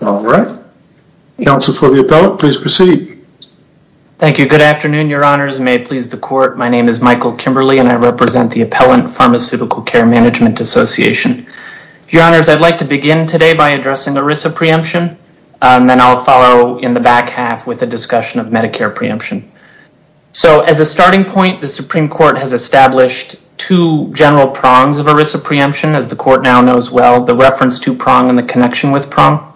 All right. Counsel for the appellant, please proceed. Thank you. Good afternoon, your honors. May it please the court, my name is Michael Kimberly and I represent the Appellant Pharmaceutical Care Management Association. Your honors, I'd like to begin today by addressing ERISA preemption and then I'll follow in the back half with a discussion of Medicare preemption. So as a starting point, the Supreme Court has established two general prongs of ERISA preemption, as the court now knows well, the reference to prong and the connection with prong.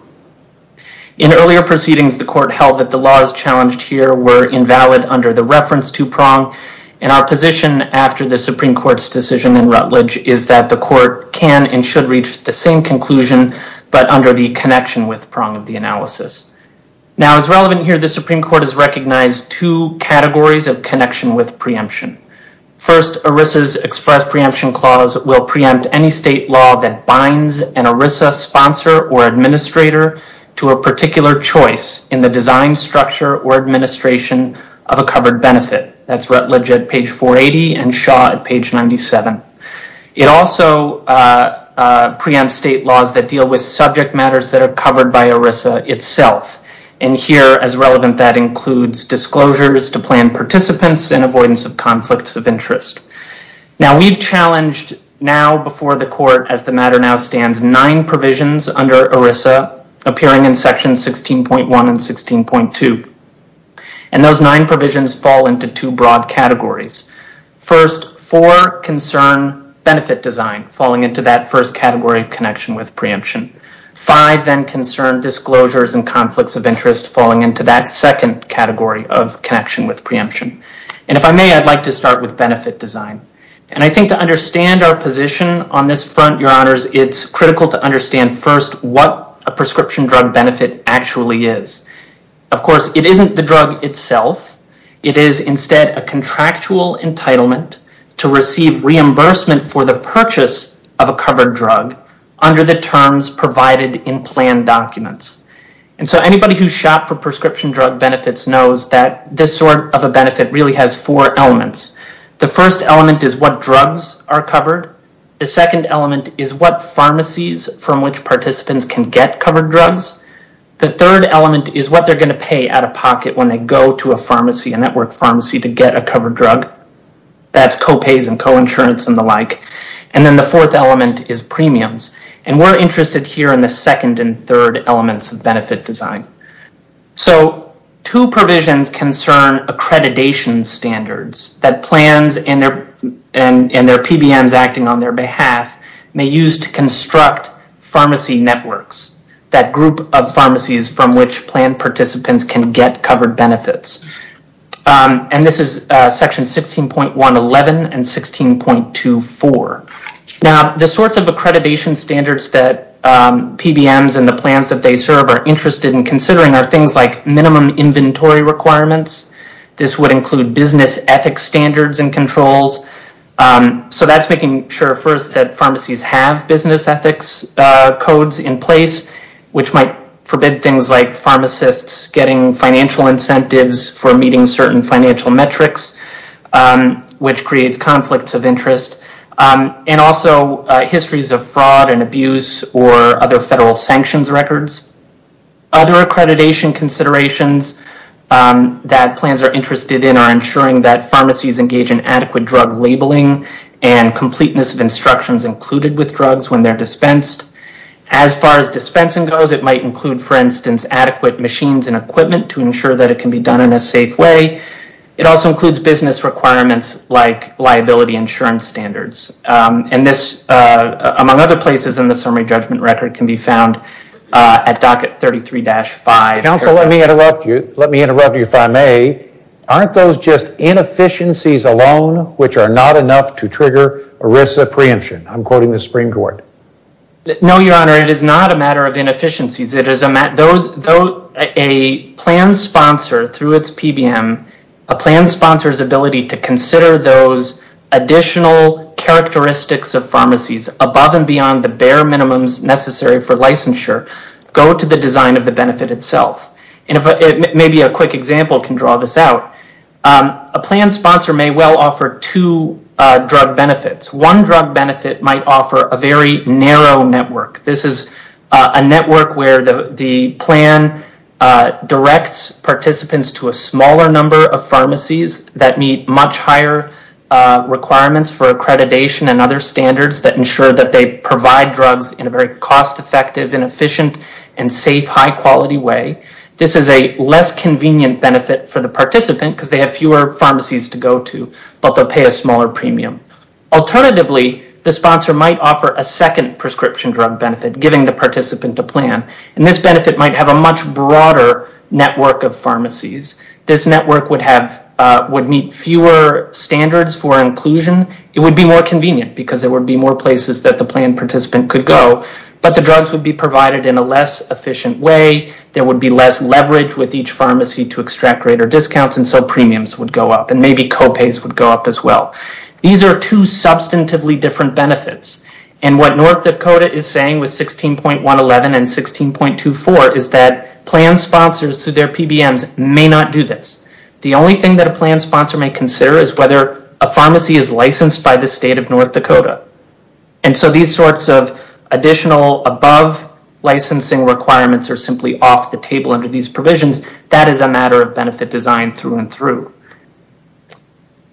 In earlier proceedings, the court held that the laws challenged here were invalid under the reference to prong and our position after the Supreme Court's decision in Rutledge is that the court can and should reach the same conclusion, but under the connection with prong of the analysis. Now as relevant here, the Supreme Court has recognized two categories of connection with preemption. First, ERISA's express preemption clause will preempt any state law that binds an ERISA sponsor or administrator to a particular choice in the design structure or administration of a covered benefit. That's Rutledge at page 480 and Shaw at page 97. It also preempts state laws that deal with subject matters that are covered by ERISA itself and here as relevant that includes disclosures to plan participants and avoidance of conflicts of interest. Now we've challenged now before the court as the matter now stands nine provisions under ERISA appearing in section 16.1 and 16.2 and those nine provisions fall into two broad categories. First, four concern benefit design falling into that first category of connection with preemption. Five then concern disclosures and conflicts of interest falling into that second category of connection with preemption. And if I may, I'd like to start with benefit design. And I think to understand our position on this front, your honors, it's critical to understand first what a prescription drug benefit actually is. Of course, it isn't the drug itself. It is instead a contractual entitlement to receive reimbursement for the purchase of a covered drug under the terms provided in plan documents. And so anybody who shopped for prescription drug benefits knows that this sort of a benefit really has four elements. The first element is what drugs are covered. The second element is what pharmacies from which participants can get covered drugs. The third element is what they're going to pay out-of-pocket when they go to a pharmacy, a network pharmacy, to get a covered drug. That's co-pays and co-insurance and the like. And then the fourth element is premiums. And we're interested here in the second and third elements of benefit design. So two provisions concern accreditation standards that plans and their PBMs acting on their behalf may use to construct pharmacy networks, that group of pharmacies from which plan participants can get covered benefits. And this is section 16.111 and 16.24. Now the sorts of accreditation standards that PBMs and the plans that they serve are interested in considering are things like minimum inventory requirements. This would include business ethics standards and controls. So that's making sure first that pharmacies have business ethics codes in place, which might forbid things like pharmacists getting financial incentives for meeting certain financial metrics, which creates conflicts of interest. And also histories of fraud and abuse or other federal sanctions records. Other accreditation considerations that plans are interested in are ensuring that pharmacies engage in adequate drug labeling and completeness of instructions included with drugs when they're dispensed. As far as dispensing goes, it might include, for instance, adequate machines and equipment to ensure that it can be done in a safe way. It also includes business requirements like liability insurance standards. And this, among other places in the summary judgment record, can be found at docket 33-5. Counsel, let me interrupt you. Let me interrupt you if I may. Aren't those just inefficiencies alone which are not enough to trigger ERISA preemption? I'm quoting the Supreme Court. No, Your Honor. It is not a matter of inefficiencies. A plan sponsor, through its PBM, a plan sponsor's ability to consider those additional characteristics of pharmacies above and beyond the bare minimums necessary for licensure go to the design of the benefit itself. Maybe a quick example can draw this out. A plan sponsor may well offer two drug benefits. One drug benefit might offer a very narrow network. This is a network where the plan directs participants to a smaller number of pharmacies that meet much higher requirements for accreditation and other standards that ensure that they provide drugs in a very cost-effective and efficient and safe high-quality way. This is a less convenient benefit for the participant because they have fewer pharmacies to go to, but they'll pay a smaller premium. Alternatively, the sponsor might offer a second prescription drug benefit, giving the participant a plan, and this benefit might have a much broader network of pharmacies. This network would meet fewer standards for inclusion. It would be more convenient because there would be more places that the plan participant could go, but the drugs would be provided in a less efficient way. There would be less leverage with each pharmacy to extract greater discounts, and so premiums would go up, and maybe co-pays would go up as well. These are two substantively different benefits, and what North Dakota is saying with 16.111 and 16.24 is that plan sponsors through their PBMs may not do this. The only thing that a plan sponsor may consider is whether a pharmacy is licensed by the state of North Dakota, and so these sorts of additional above-licensing requirements are simply off the table under these provisions. That is a matter of benefit design through and through.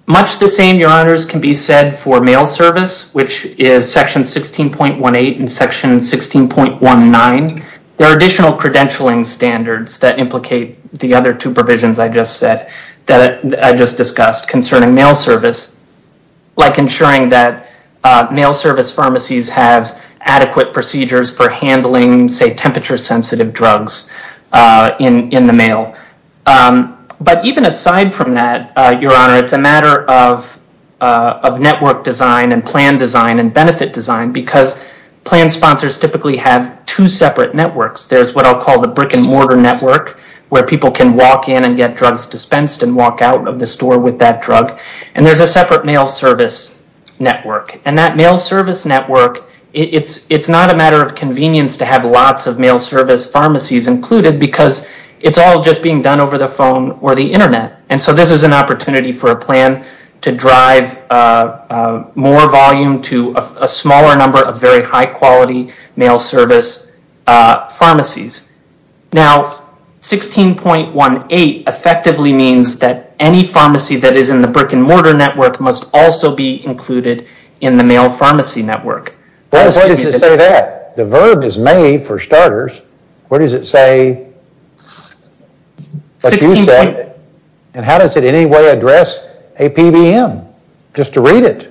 Much the same, Your Honors, can be said for mail service, which is Section 16.18 and Section 16.19. There are additional credentialing standards that implicate the other two provisions I just discussed concerning mail service, like ensuring that mail service pharmacies have adequate procedures for handling temperature-sensitive drugs in the mail. Even aside from that, Your Honor, it's a matter of network design and plan design and benefit design, because plan sponsors typically have two separate networks. There's what I'll call the brick-and-mortar network, where people can walk in and get drugs dispensed and walk out of the store with that drug, and there's a separate mail service network. That mail service network, it's not a matter of convenience to have lots of mail service pharmacies included, because it's all just being done over the phone or the internet, and so this is an opportunity for a plan to drive more volume to a smaller number of very high-quality mail service pharmacies. Now, 16.18 effectively means that any pharmacy that is in the brick-and-mortar network must also be included in the mail pharmacy network. What does it say there? The verb is may, for starters. What does it say, what you said, and how does it in any way address a PBM? Just to read it.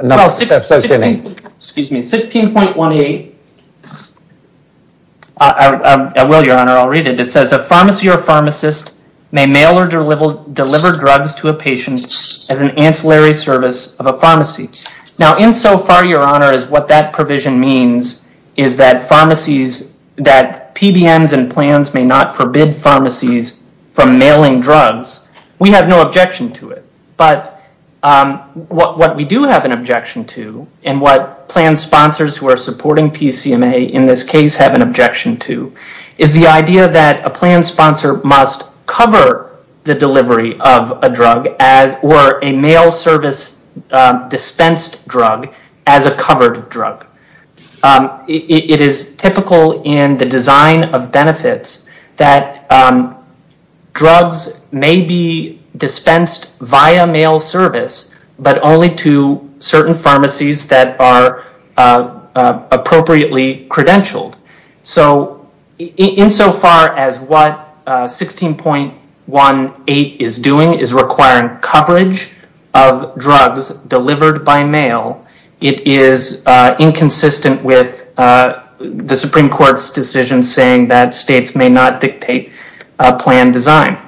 Excuse me, 16.18, I will, Your Honor, I'll read it. It says, a pharmacy or pharmacist may mail or deliver drugs to a patient as an ancillary service of a pharmacy. Now, insofar, Your Honor, as what that provision means is that pharmacies, that PBMs and plans may not forbid pharmacies from mailing drugs, we have no objection to it, but what we do have an objection to, and what plan sponsors who are supporting PCMA in this case have an objection to, is the idea that a plan sponsor must cover the delivery of a drug or a mail service dispensed drug as a covered drug. It is typical in the design of benefits that drugs may be dispensed via mail service, but only to certain pharmacies that are appropriately credentialed. Insofar as what 16.18 is doing is requiring coverage of drugs delivered by mail, it is inconsistent with the Supreme Court's decision saying that states may not dictate a plan design.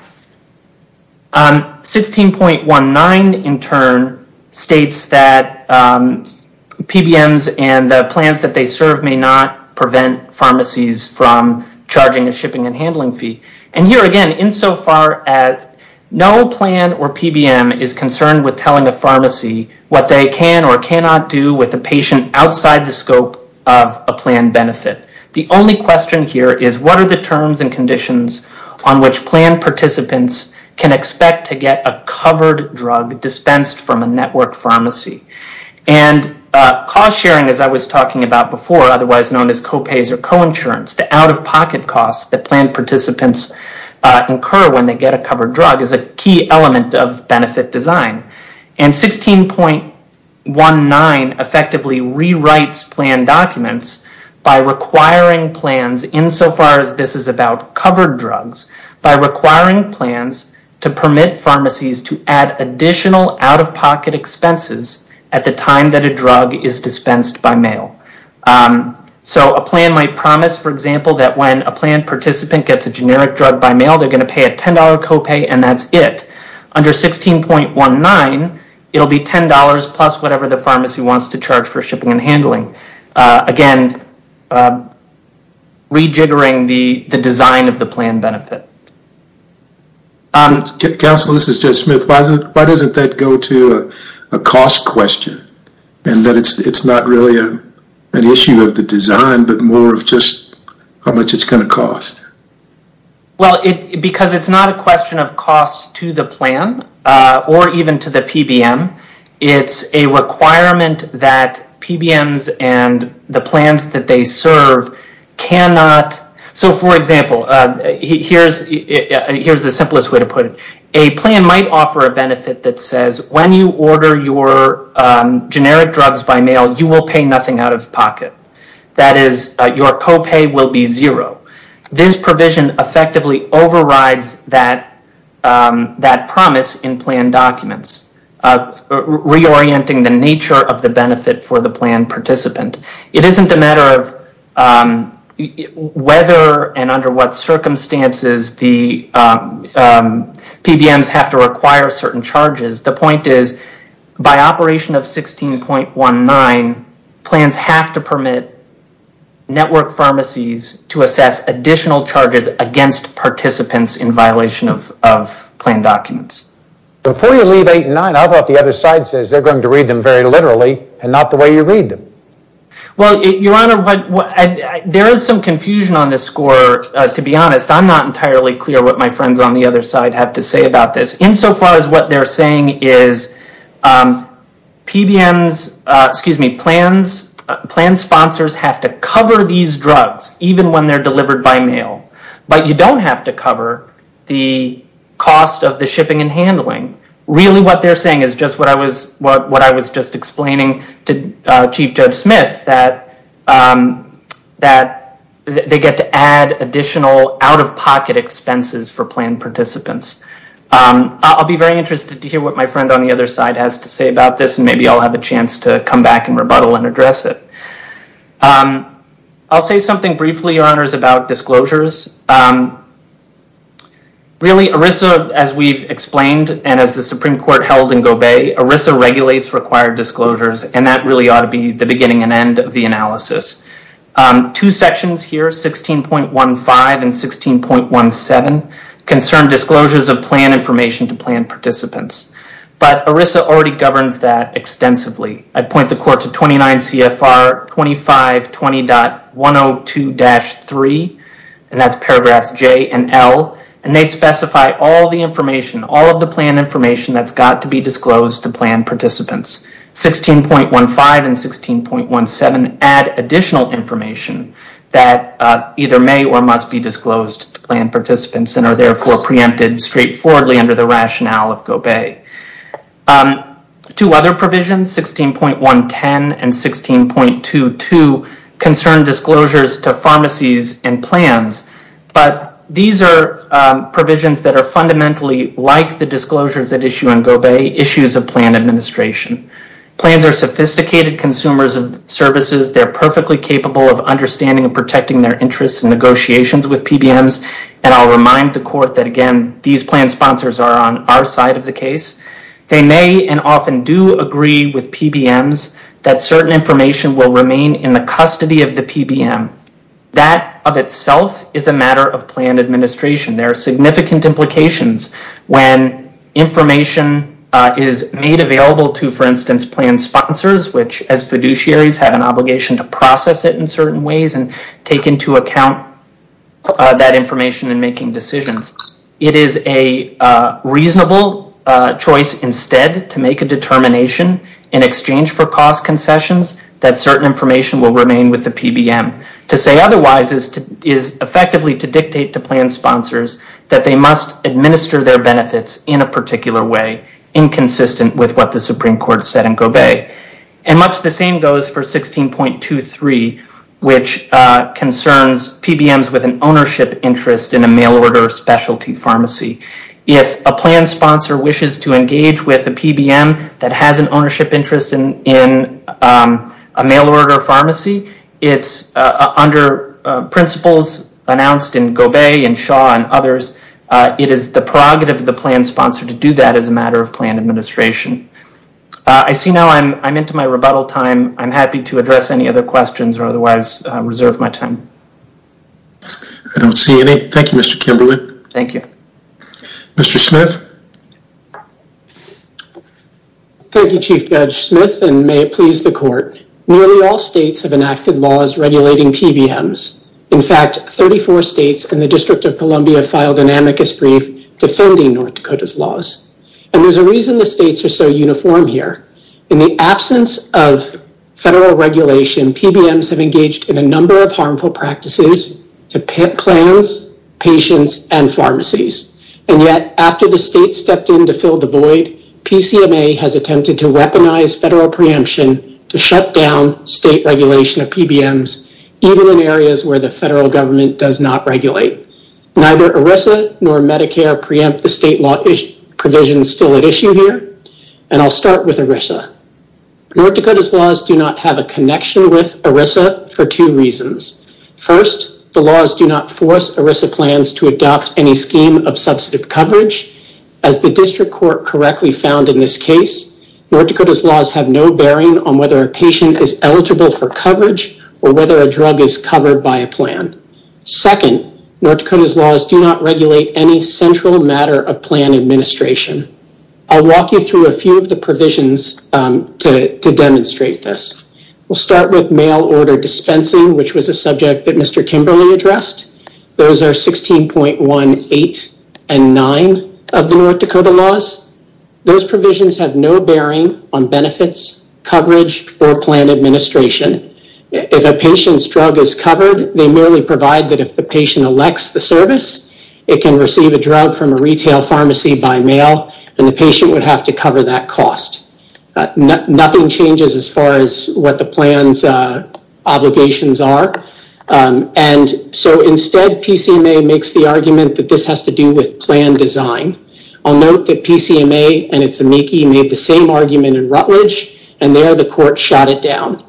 16.19, in turn, states that PBMs and the plans that they serve may not prevent pharmacies from charging a shipping and handling fee. And here again, insofar as no plan or PBM is concerned with telling a pharmacy what they can or cannot do with a patient outside the scope of a plan benefit. The only question here is what are the terms and conditions on which plan participants can expect to get a covered drug dispensed from a network pharmacy? And cost sharing, as I was talking about before, otherwise known as co-pays or co-insurance, the out-of-pocket costs that plan participants incur when they get a covered drug is a key element of benefit design. And 16.19 effectively rewrites plan documents by requiring plans, insofar as this is about covered drugs, by requiring plans to permit pharmacies to add additional out-of-pocket expenses at the time that a drug is dispensed by mail. So a plan might promise, for example, that when a plan participant gets a generic drug by mail, they're going to pay a $10 co-pay and that's it. Under 16.19, it'll be $10 plus whatever the pharmacy wants to charge for shipping and handling. Again, rejiggering the design of the plan benefit. Counsel, this is Judge Smith. Why doesn't that go to a cost question? And that it's not really an issue of the design, but more of just how much it's going to cost? Well, because it's not a question of cost to the plan or even to the PBM. It's a requirement that PBMs and the plans that they serve cannot... So, for example, here's the simplest way to put it. A plan might offer a benefit that says, when you order your generic drugs by mail, you will pay nothing out-of-pocket. That is, your co-pay will be zero. This provision effectively overrides that promise in plan documents, reorienting the nature of the benefit for the plan participant. It isn't a matter of whether and under what circumstances the PBMs have to require certain charges. The point is, by operation of 16.19, plans have to permit network pharmacies to assess additional charges against participants in violation of plan documents. Before you leave 8 and 9, I thought the other side says they're going to read them very literally and not the way you read them. Well, Your Honor, there is some confusion on this score, to be honest. I'm not entirely clear what my friends on the other side have to say about this. Insofar as what they're saying is, plan sponsors have to cover these drugs, even when they're delivered by mail, but you don't have to cover the cost of the shipping and handling. Really what they're saying is just what I was just explaining to Chief Judge Smith, that they get to add additional out-of-pocket expenses for plan participants. I'll be very interested to hear what my friend on the other side has to say about this, and maybe I'll have a chance to come back and rebuttal and address it. I'll say something briefly, Your Honors, about disclosures. Really, ERISA, as we've explained, and as the Supreme Court held in Gobey, ERISA regulates required disclosures, and that really ought to be the beginning and end of the analysis. Two sections here, 16.15 and 16.17, concern disclosures of plan information to plan participants, but ERISA already governs that extensively. I'd point the court to 29 CFR 2520.102-3, and that's paragraphs J and L, and they specify all the information, all of the plan information that's got to be disclosed to plan participants. 16.15 and 16.17 add additional information that either may or must be disclosed to plan participants, and are therefore preempted straightforwardly under the rationale of Gobey. Two other provisions, 16.110 and 16.22, concern disclosures to pharmacies and plans, but these are provisions that are fundamentally like the disclosures that issue on Gobey, issues of plan administration. Plans are sophisticated consumers of services. They're perfectly capable of understanding and protecting their interests in negotiations with PBMs, and I'll remind the court that, again, these plan sponsors are on our side of the case. They may and often do agree with PBMs that certain information will remain in the custody of the PBM. That of itself is a matter of plan administration. There are significant implications when information is made available to, for instance, plan sponsors, which as fiduciaries have an obligation to process it in certain ways and take into account that information in making decisions. It is a reasonable choice instead to make a determination in exchange for cost concessions that certain information will remain with the PBM. To say otherwise is effectively to dictate to plan sponsors that they must administer their benefits in a particular way, inconsistent with what the Supreme Court said in Gobey. Much the same goes for 16.23, which concerns PBMs with an ownership interest in a mail-order specialty pharmacy. If a plan sponsor wishes to engage with a PBM that has an ownership interest in a mail-order pharmacy, under principles announced in Gobey and Shaw and others, it is the prerogative of the plan sponsor to do that as a matter of plan administration. I see now I'm into my rebuttal time. I'm happy to address any other questions or otherwise reserve my time. I don't see any. Thank you, Mr. Kimberlin. Thank you. Mr. Smith. Thank you, Chief Judge Smith, and may it please the court. Nearly all states have enacted laws regulating PBMs. In fact, 34 states and the District of Columbia filed an amicus brief defending North Dakota's laws. And there's a reason the states are so uniform here. In the absence of federal regulation, PBMs have engaged in a number of harmful practices, plans, patients, and pharmacies. And yet, after the states stepped in to fill the void, PCMA has attempted to weaponize federal preemption to shut down state regulation of PBMs, even in areas where the federal government does not regulate. Neither ERISA nor Medicare preempt the state law provisions still at issue here. And I'll start with ERISA. North Dakota's laws do not have a connection with ERISA for two reasons. First, the laws do not force ERISA plans to adopt any scheme of substantive coverage. As the District Court correctly found in this case, North Dakota's laws have no bearing on whether a patient is eligible for coverage or whether a drug is covered by a plan. Second, North Dakota's laws do not regulate any central matter of plan administration. I'll walk you through a few of the provisions to demonstrate this. We'll start with mail order dispensing, which was a subject that Mr. Kimberly addressed. Those are 16.18 and 9 of the North Dakota laws. Those provisions have no bearing on benefits, coverage, or plan administration. If a patient's drug is covered, they merely provide that if the patient elects the service, it can receive a drug from a retail pharmacy by mail, and the patient would have to cover that cost. Nothing changes as far as what the plan's obligations are. Instead, PCMA makes the argument that this has to do with plan design. I'll note that PCMA and its amici made the same argument in Rutledge, and there the court shot it down.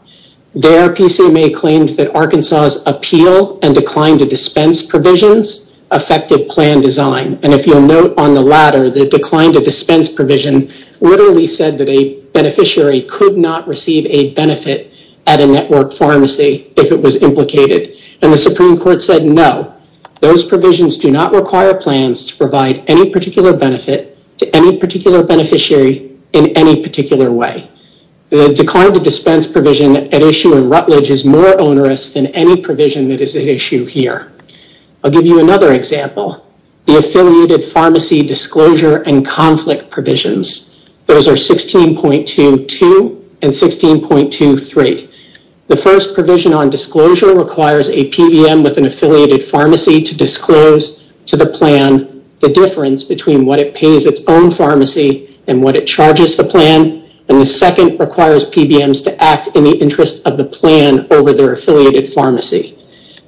There, PCMA claimed that Arkansas' appeal and decline to dispense provisions affected plan design. If you'll note on the latter, the decline to dispense provision literally said that a beneficiary could not receive a benefit at a network pharmacy if it was implicated, and the Supreme Court said no. Those provisions do not require plans to provide any particular benefit to any particular beneficiary in any particular way. The decline to dispense provision at issue in Rutledge is more onerous than any provision that is at issue here. I'll give you another example, the affiliated pharmacy disclosure and conflict provisions. Those are 16.22 and 16.23. The first provision on disclosure requires a PBM with an affiliated pharmacy to disclose to the plan the difference between what it pays its own pharmacy and what it charges the plan, and the second requires PBMs to act in the interest of the plan over their affiliated pharmacy.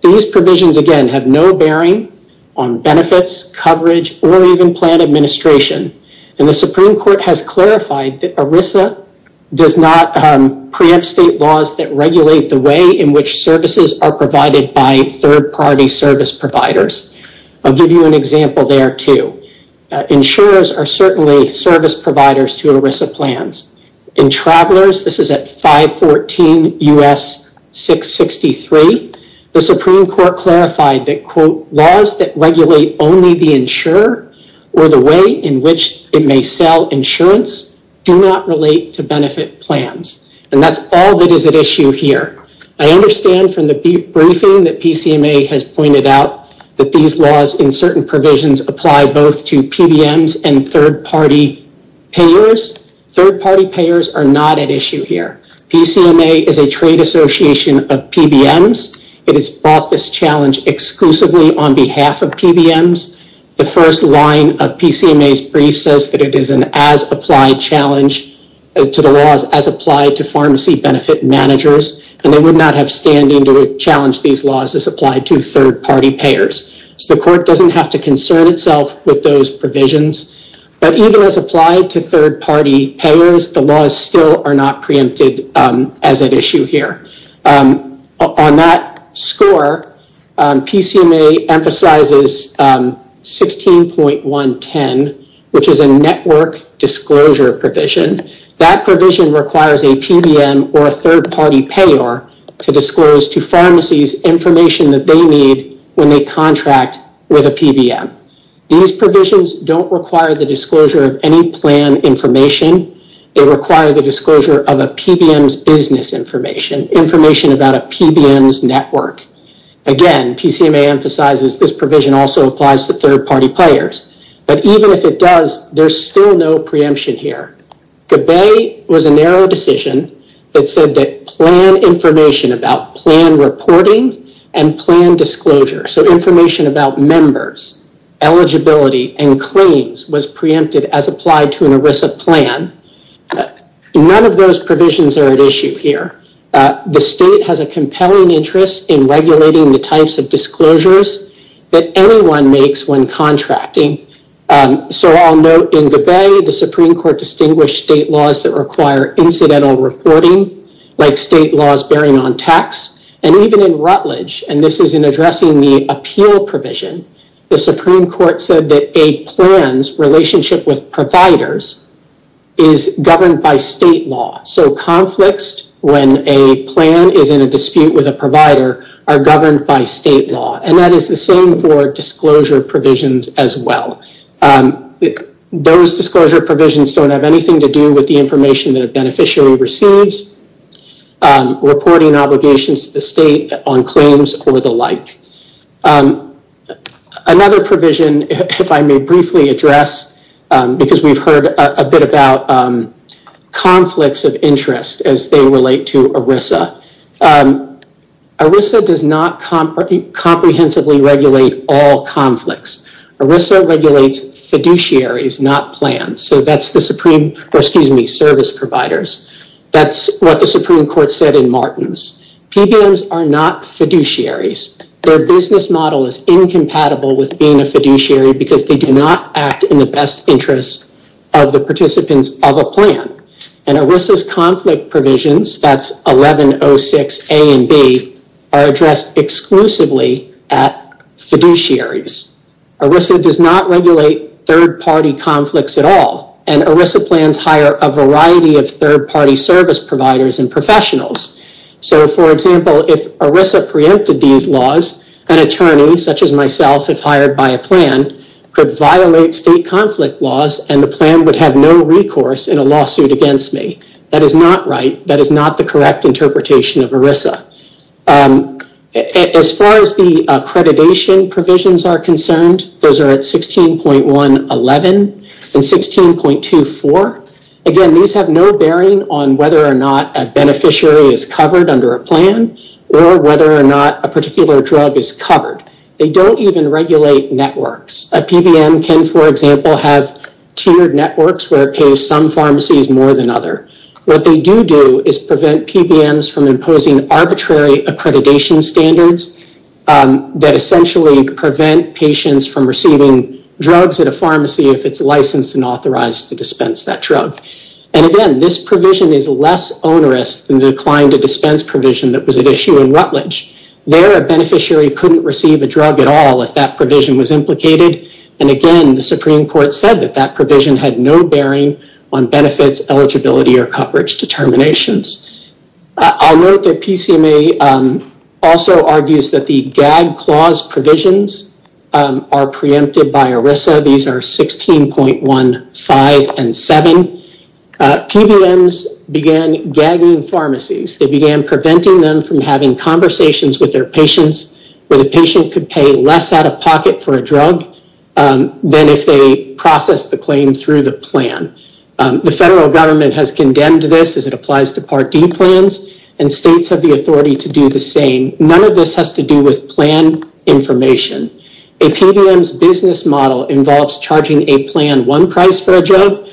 These provisions, again, have no bearing on benefits, coverage, or even plan administration, and the Supreme Court has clarified that ERISA does not preempt state laws that regulate the way in which services are provided by third-party service providers. I'll give you an example there, too. Insurers are certainly service providers to ERISA plans. In Travelers, this is at 514 U.S. 663, the Supreme Court clarified that, quote, laws that regulate only the insurer or the way in which it may sell insurance do not relate to benefit plans, and that's all that is at issue here. I understand from the briefing that PCMA has pointed out that these laws in certain provisions apply both to PBMs and third-party payers. Third-party payers are not at issue here. PCMA is a trade association of PBMs. It has brought this challenge exclusively on behalf of PBMs. The first line of PCMA's brief says that it is an as-applied challenge to the laws as applied to pharmacy benefit managers, and they would not have standing to challenge these laws as applied to third-party payers. So the court doesn't have to concern itself with those provisions, but even as applied to third-party payers, the laws still are not preempted as at issue here. On that score, PCMA emphasizes 16.110, which is a network disclosure provision. That provision requires a PBM or a third-party payer to disclose to pharmacies information that they need when they contract with a PBM. These provisions don't require the disclosure of any plan information. They require the disclosure of a PBM's business information, information about a PBM's network. Again, PCMA emphasizes this provision also applies to third-party payers. But even if it does, there's still no preemption here. Gabay was a narrow decision that said that plan information about plan reporting and plan disclosure, so information about members, eligibility, and claims was preempted as applied to an ERISA plan. None of those provisions are at issue here. The state has a compelling interest in regulating the types of disclosures that anyone makes when contracting. So I'll note in Gabay, the Supreme Court distinguished state laws that require incidental reporting, like state laws bearing on tax. And even in Rutledge, and this is in addressing the appeal provision, the Supreme Court said that a plan's relationship with providers is governed by state law. So conflicts, when a plan is in a dispute with a provider, are governed by state law. And that is the same for disclosure provisions as well. Those disclosure provisions don't have anything to do with the information that a beneficiary receives, reporting obligations to the state on claims or the like. Another provision, if I may briefly address, because we've heard a bit about conflicts of interest as they relate to ERISA. ERISA does not comprehensively regulate all conflicts. ERISA regulates fiduciaries, not plans. So that's the Supreme, or excuse me, service providers. That's what the Supreme Court said in Martins. PBMs are not fiduciaries. Their business model is incompatible with being a fiduciary because they do not act in the best interest of the participants of a plan. And ERISA's conflict provisions, that's 1106A and B, are addressed exclusively at fiduciaries. ERISA does not regulate third-party conflicts at all. And ERISA plans hire a variety of third-party service providers and professionals. So, for example, if ERISA preempted these laws, an attorney such as myself, if hired by a plan, could violate state conflict laws and the plan would have no recourse in a lawsuit against me. That is not right. That is not the correct interpretation of ERISA. As far as the accreditation provisions are concerned, those are at 16.11 and 16.24. Again, these have no bearing on whether or not a beneficiary is covered under a plan or whether or not a particular drug is covered. They don't even regulate networks. A PBM can, for example, have tiered networks where it pays some pharmacies more than others. What they do do is prevent PBMs from imposing arbitrary accreditation standards that essentially prevent patients from receiving drugs at a pharmacy if it's licensed and authorized to And again, this provision is less onerous than the decline to dispense provision that was at issue in Rutledge. There, a beneficiary couldn't receive a drug at all if that provision was implicated. And again, the Supreme Court said that that provision had no bearing on benefits, eligibility, or coverage determinations. I'll note that PCMA also argues that the gag clause provisions are preempted by ERISA. These are 16.15 and 16.7. PBMs began gagging pharmacies. They began preventing them from having conversations with their patients where the patient could pay less out of pocket for a drug than if they processed the claim through the plan. The federal government has condemned this as it applies to Part D plans, and states have the authority to do the same. None of this has to do with plan information. A PBM's business model involves charging a plan one price for a drug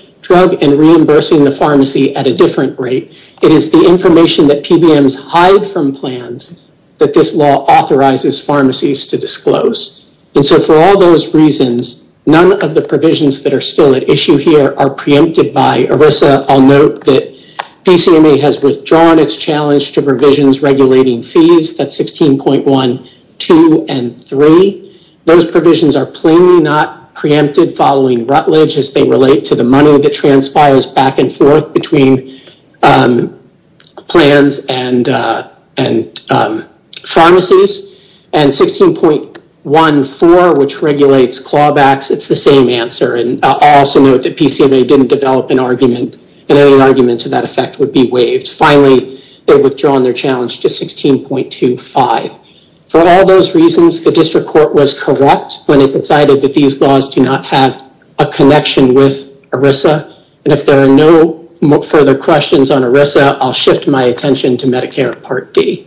and reimbursing the pharmacy at a different rate. It is the information that PBMs hide from plans that this law authorizes pharmacies to disclose. And so for all those reasons, none of the provisions that are still at issue here are preempted by ERISA. I'll note that PCMA has withdrawn its challenge to provisions regulating fees. That's 16.1, 2, and 3. Those provisions are plainly not preempted following Rutledge as they relate to the money that transpires back and forth between plans and pharmacies. And 16.14, which regulates clawbacks, it's the same answer. I'll also note that PCMA didn't develop an argument, and any argument to that effect would be waived. Finally, they've withdrawn their challenge to 16.25. For all those reasons, the district court was corrupt when it decided that these laws do not have a connection with ERISA. And if there are no further questions on ERISA, I'll shift my attention to Medicare Part D.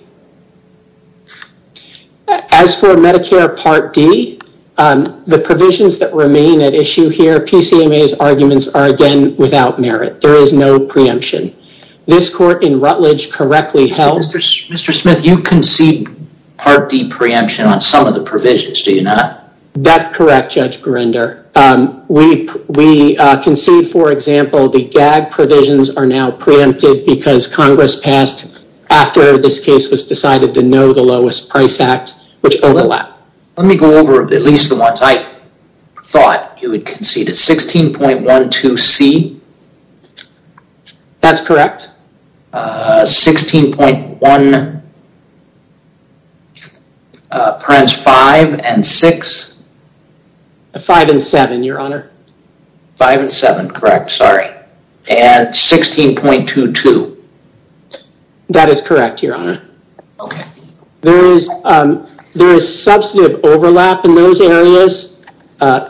As for Medicare Part D, the provisions that remain at issue here, PCMA's arguments are again without merit. There is no preemption. This court in Rutledge correctly held... Mr. Smith, you concede Part D preemption on some of the provisions, do you not? That's correct, Judge Berender. We concede, for example, the GAG provisions are now preempted because Congress passed after this case was decided to know the lowest price act, which overlap. Let me go over at least the ones I thought you would concede. 16.12C? That's correct. 16.1... 5 and 6? 5 and 7, Your Honor. 5 and 7, correct, sorry. And 16.22? That is correct, Your Honor. There is substantive overlap in those areas.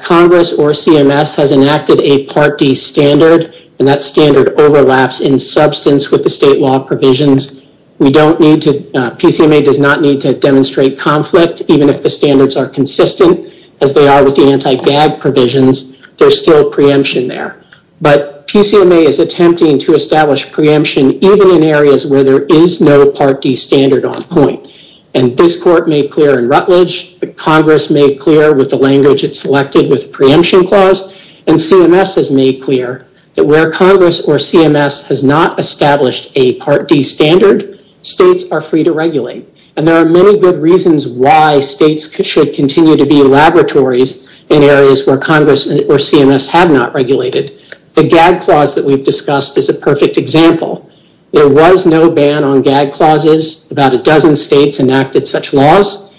Congress or CMS has enacted a Part D standard, and that standard overlaps in substance with the state law provisions. PCMA does not need to demonstrate conflict, even if the standards are consistent, as they are with the anti-GAG provisions. There's still preemption there. But PCMA is attempting to establish preemption even in areas where there is no Part D standard on point. And this Court made clear in Rutledge, Congress made clear with the language it selected with preemption clause, and CMS has made clear that where Congress or CMS has not established a Part D standard, states are free to regulate. And there are many good reasons why states should continue to be laboratories in areas where Congress or CMS have not regulated. The GAG clause that we've discussed is a perfect example. There was no ban on GAG clauses. About a dozen states enacted such laws.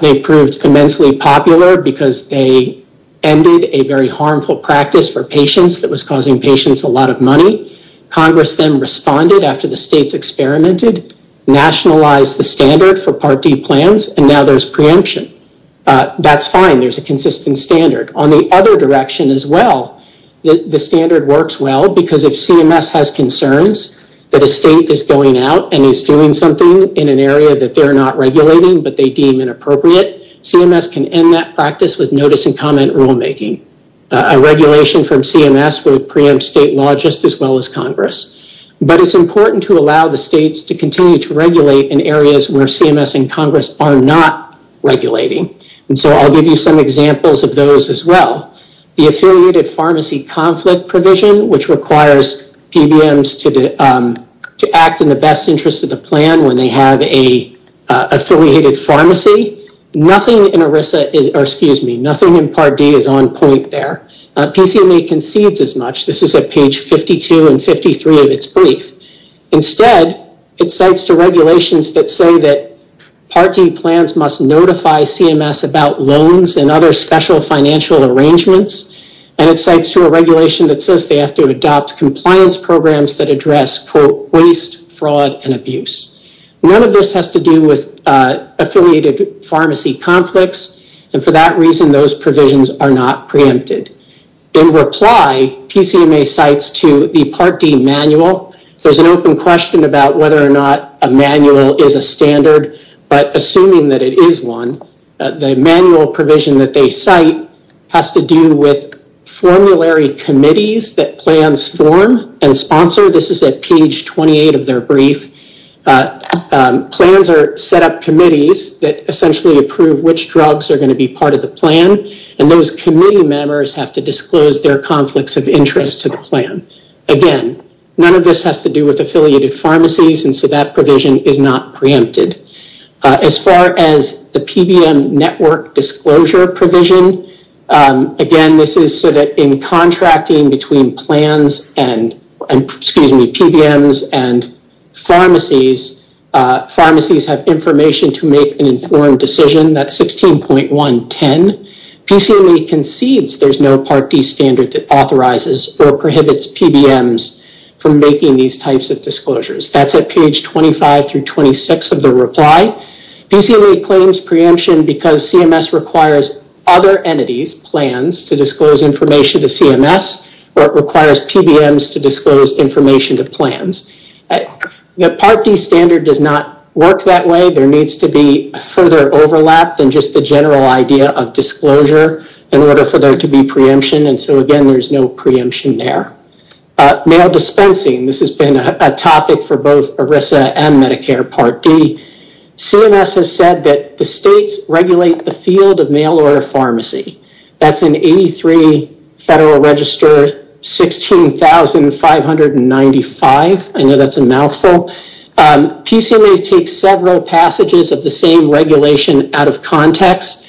They proved immensely popular because they ended a very harmful practice for patients that was causing patients a lot of money. Congress then responded after the states experimented, nationalized the standard for Part D plans, and now there's preemption. That's fine. There's a consistent standard. On the other direction as well, the standard works well because if CMS has concerns that a state is going out and is doing something in an area that they're not regulating but they deem inappropriate, CMS can end that practice with notice and comment rulemaking. A regulation from CMS would preempt state law just as well as Congress. But it's important to allow the states to continue to regulate in areas where CMS and Congress are not regulating. I'll give you some examples of those as well. The Affiliated Pharmacy Conflict Provision, which requires PBMs to act in the best interest of the plan when they have an affiliated pharmacy, nothing in Part D is on point there. PCMA concedes as much. This is at page 52 and 53 of its brief. Instead, it cites to regulations that say that Part D plans must notify CMS about loans and other special financial arrangements, and it cites to a regulation that says they have to adopt compliance programs that address, quote, waste, fraud, and abuse. None of this has to do with affiliated pharmacy conflicts, and for that reason, those provisions are not preempted. In reply, PCMA cites to the Part D manual. There's an open question about whether or not a manual is a standard, but assuming that it is one, the manual provision that they cite has to do with formulary committees that plans form and sponsor. This is at page 28 of their brief. Plans are set up committees that essentially approve which drugs are going to be part of the plan, and those committee members have to disclose their conflicts of interest to the plan. Again, none of this has to do with affiliated pharmacies, and so that provision is not preempted. As far as the PBM network disclosure provision, again, this is so that in contracting between plans and, excuse me, PBMs and pharmacies, pharmacies have information to make an informed decision. That's 16.110. PCMA concedes there's no Part D standard that authorizes or prohibits PBMs from making these types of disclosures. That's at page 25 through 26 of the reply. PCMA claims preemption because CMS requires other entities, plans, to disclose information to CMS, or it requires PBMs to disclose information to plans. The Part D standard does not work that way. There needs to be further overlap than just the general idea of disclosure in order for there to be preemption, and so again, there's no preemption there. Mail dispensing, this has been a topic for both ERISA and Medicare Part D. CMS has said that the states regulate the field of mail order pharmacy. That's in 83 Federal Register 16,595. I know that's a mouthful. PCMA takes several passages of the same regulation out of context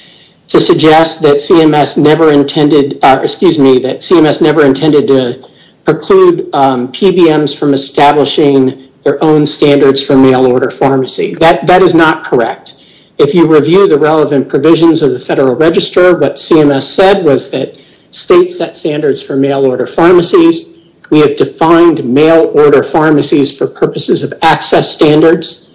to suggest that CMS never intended, excuse me, that CMS never intended to preclude PBMs from establishing their own standards for mail order pharmacy. That is not correct. If you review the relevant provisions of the Federal Register, what CMS said was that states set standards for mail order pharmacies. We have defined mail order pharmacies for purposes of access standards.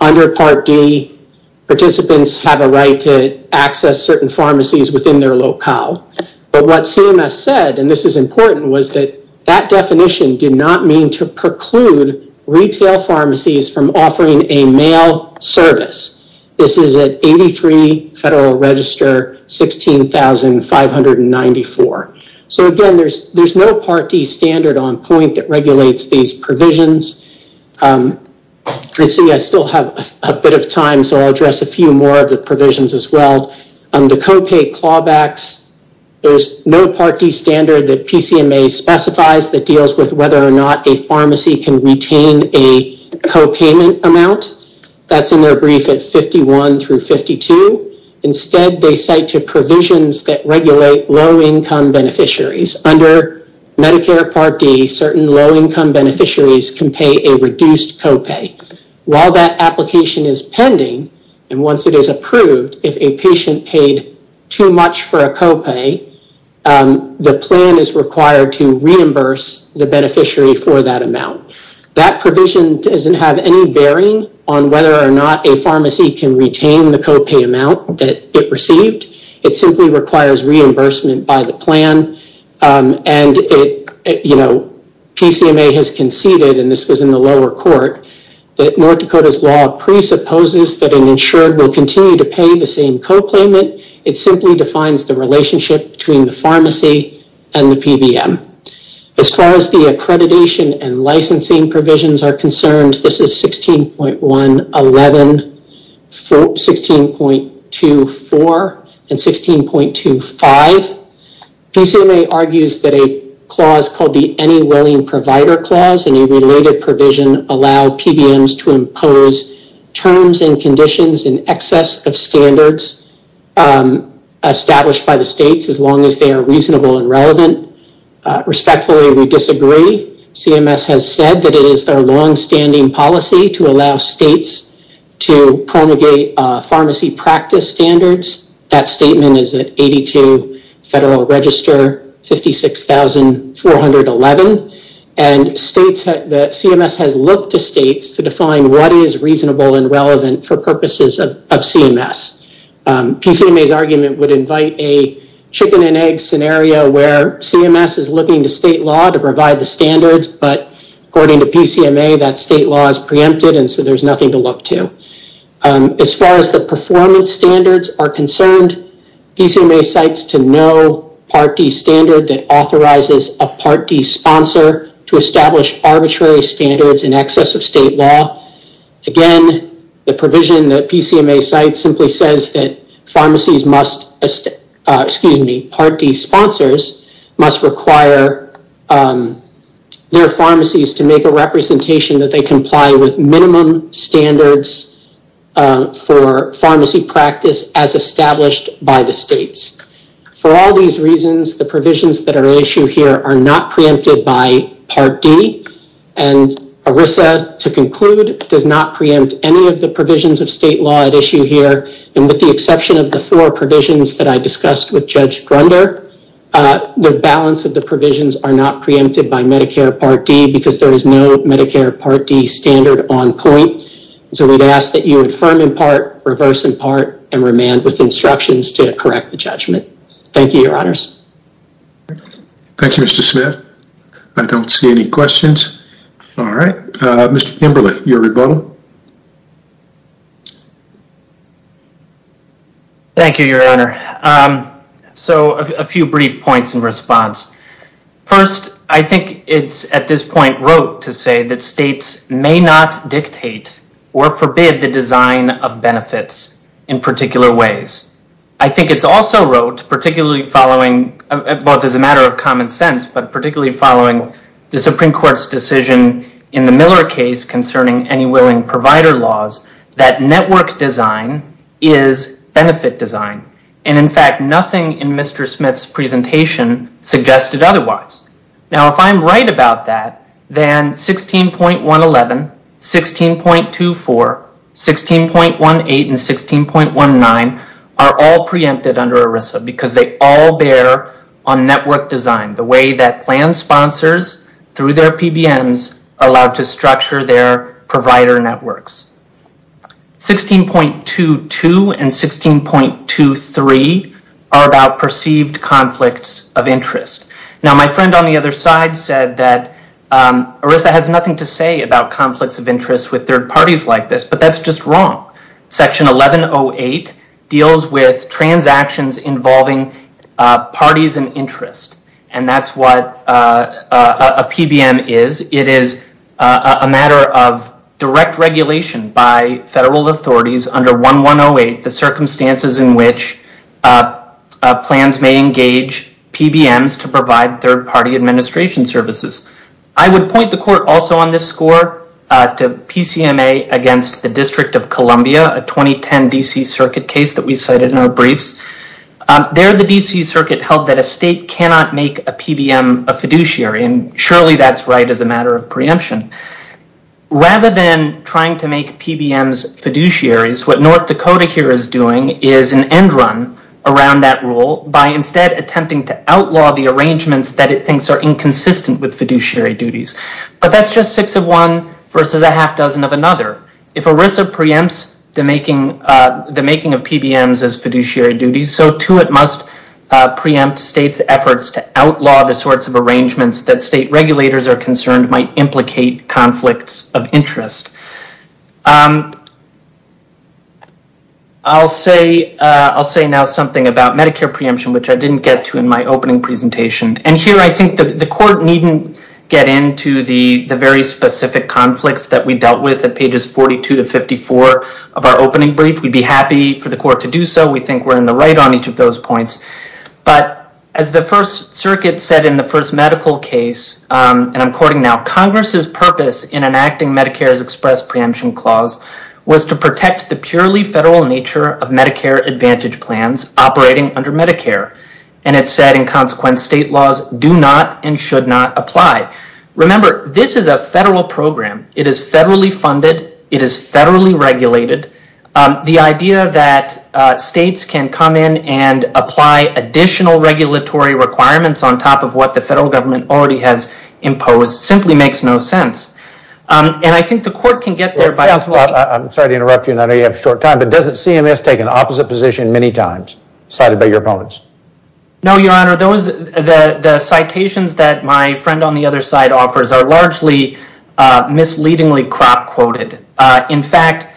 Under Part D, participants have a right to access certain pharmacies within their locale, but what CMS said, and this is important, was that that definition did not mean to preclude retail pharmacies from offering a mail service. This is at 83 Federal Register 16,594. Again, there's no Part D standard on point that regulates these provisions. I still have a bit of time, so I'll address a few more of the provisions as well. The copay clawbacks, there's no Part D standard that PCMA specifies that deals with whether or not a pharmacy can retain a copayment amount. That's in their brief at 51 through 52. Instead, they cite to provisions that regulate low income beneficiaries. Under Medicare Part D, certain low income beneficiaries can pay a reduced copay. While that application is pending, and once it is approved, if a patient paid too much for a copay, the plan is required to reimburse the beneficiary for that amount. That provision doesn't have any bearing on whether or not a pharmacy can retain the copay amount that it received. It simply requires reimbursement by the plan, and PCMA has conceded, and this was in the lower court, that North Dakota's law presupposes that an insured will continue to pay the same copayment. It simply defines the relationship between the pharmacy and the PBM. As far as the accreditation and licensing provisions are concerned, this is 16.11, 16.24, and 16.25. PCMA argues that a clause called the Any Willing Provider Clause and a related provision allow PBMs to impose terms and conditions in excess of standards established by the states, as long as they are reasonable and relevant. Respectfully, we disagree. CMS has said that it is their longstanding policy to allow states to promulgate pharmacy practice standards. That statement is at 82 Federal Register 56,411, and CMS has looked to states to define what is reasonable and relevant for purposes of CMS. PCMA's argument would invite a chicken-and-egg scenario where CMS is looking to state law to provide the standards, but according to PCMA, that state law is preempted, and so there's nothing to look to. As far as the performance standards are concerned, PCMA cites to no Part D standard that authorizes a Part D sponsor to establish arbitrary standards in excess of state law. Again, the provision that PCMA cites simply says that pharmacies must, excuse me, Part D sponsors must require their pharmacies to make a representation that they comply with minimum standards for pharmacy practice as established by the states. For all these reasons, the provisions that are at issue here are not preempted by Part D, and ERISA, to conclude, does not preempt any of the provisions of state law at issue here, and with the exception of the four provisions that I discussed with Judge Grunder, the balance of the provisions are not preempted by Medicare Part D because there is no Medicare Part D standard on point, so we'd ask that you affirm in part, reverse in part, and remand with instructions to correct the judgment. Thank you, Your Honors. Thank you, Mr. Smith. I don't see any questions. All right. Mr. Kimberly, your rebuttal. Thank you, Your Honor. So, a few brief points in response. First, I think it's at this point rote to say that states may not dictate or forbid the design of benefits in particular ways. I think it's also rote, particularly following, both as a matter of common sense, but particularly following the Supreme Court's decision in the Miller case concerning any willing provider laws, that network design is benefit design, and in fact, nothing in Mr. Smith's presentation suggested otherwise. Now, if I'm right about that, then 16.111, 16.24, 16.18, and 16.19 are all preempted under ERISA because they all bear on network design, the way that plan sponsors, through their PBMs, are allowed to structure their provider networks. 16.22 and 16.23 are about perceived conflicts of interest. Now, my friend on the other side said that ERISA has nothing to say about conflicts of interest with third parties like this, but that's just wrong. Section 1108 deals with transactions involving parties in interest, and that's what a PBM is. It is a matter of direct regulation by federal authorities under 1108, the circumstances in which plans may engage PBMs to provide third party administration services. I would point the court also on this score to PCMA against the District of Columbia, a 2010 D.C. circuit case that we cited in our briefs. There, the D.C. circuit held that a state cannot make a PBM a fiduciary, and surely that's right as a matter of preemption. Rather than trying to make PBMs fiduciaries, what North Dakota here is doing is an end run around that rule by instead attempting to outlaw the arrangements that it thinks are inconsistent with fiduciary duties, but that's just six of one versus a half dozen of another. If ERISA preempts the making of PBMs as fiduciary duties, so too it must preempt states' efforts to outlaw the sorts of arrangements that state regulators are concerned might implicate conflicts of interest. I'll say now something about Medicare preemption, which I didn't get to in my opening presentation. Here, I think the court needn't get into the very specific conflicts that we dealt with at pages 42 to 54 of our opening brief. We'd be happy for the court to do so. We think we're in the right on each of those points. As the First Circuit said in the first medical case, and I'm quoting now, Congress's purpose in enacting Medicare's express preemption clause was to protect the purely federal nature of Medicare Advantage plans operating under Medicare. It said, in consequence, state laws do not and should not apply. Remember, this is a federal program. It is federally funded. It is federally regulated. The idea that states can come in and apply additional regulatory requirements on top of what the federal government already has imposed simply makes no sense. I think the court can get there by... I'm sorry to interrupt you. I know you have short time, but doesn't CMS take an opposite position many times, cited by your opponents? No, Your Honor. The citations that my friend on the other side offers are largely misleadingly crop-quoted. In fact,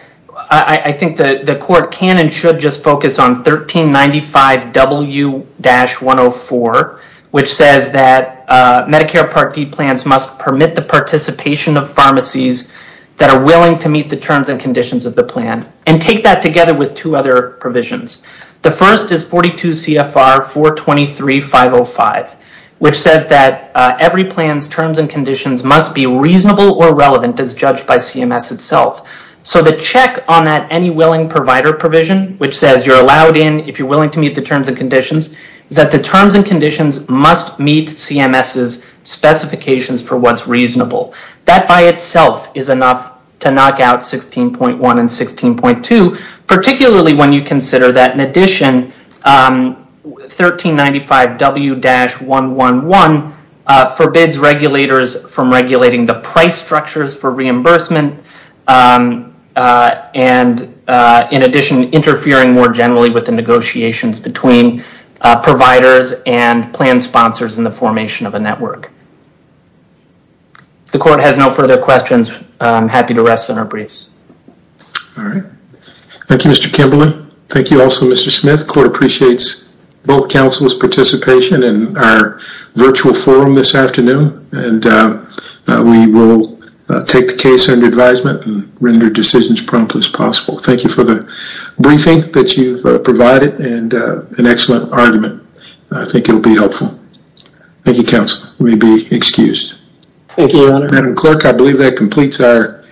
I think the court can and should just focus on 1395W-104, which says that Medicare Part D plans must permit the participation of pharmacies that are willing to meet the terms and conditions of the plan, and take that together with two other provisions. The first is 42 CFR 423-505, which says that every plan's terms and conditions must be reasonable or relevant as judged by CMS itself. So the check on that Any Willing Provider provision, which says you're allowed in if you're willing to meet the terms and conditions, is that the terms and conditions must meet CMS's specifications for what's reasonable. That by itself is enough to knock out 16.1 and 16.2, particularly when you consider that in addition, 1395W-111 forbids regulators from regulating the price structures for reimbursement, and in addition, interfering more generally with the negotiations between providers and plan sponsors in the formation of a network. If the court has no further questions, I'm happy to rest on our briefs. All right. Thank you, Mr. Kimberlin. Thank you also, Mr. Smith. Court appreciates both counsel's participation in our virtual forum this afternoon, and we will take the case under advisement and render decisions prompt as possible. Thank you for the briefing that you've provided and an excellent argument. I think it will be helpful. Thank you, counsel. You may be excused. Thank you, Your Honor. Madam Clerk, I believe that completes our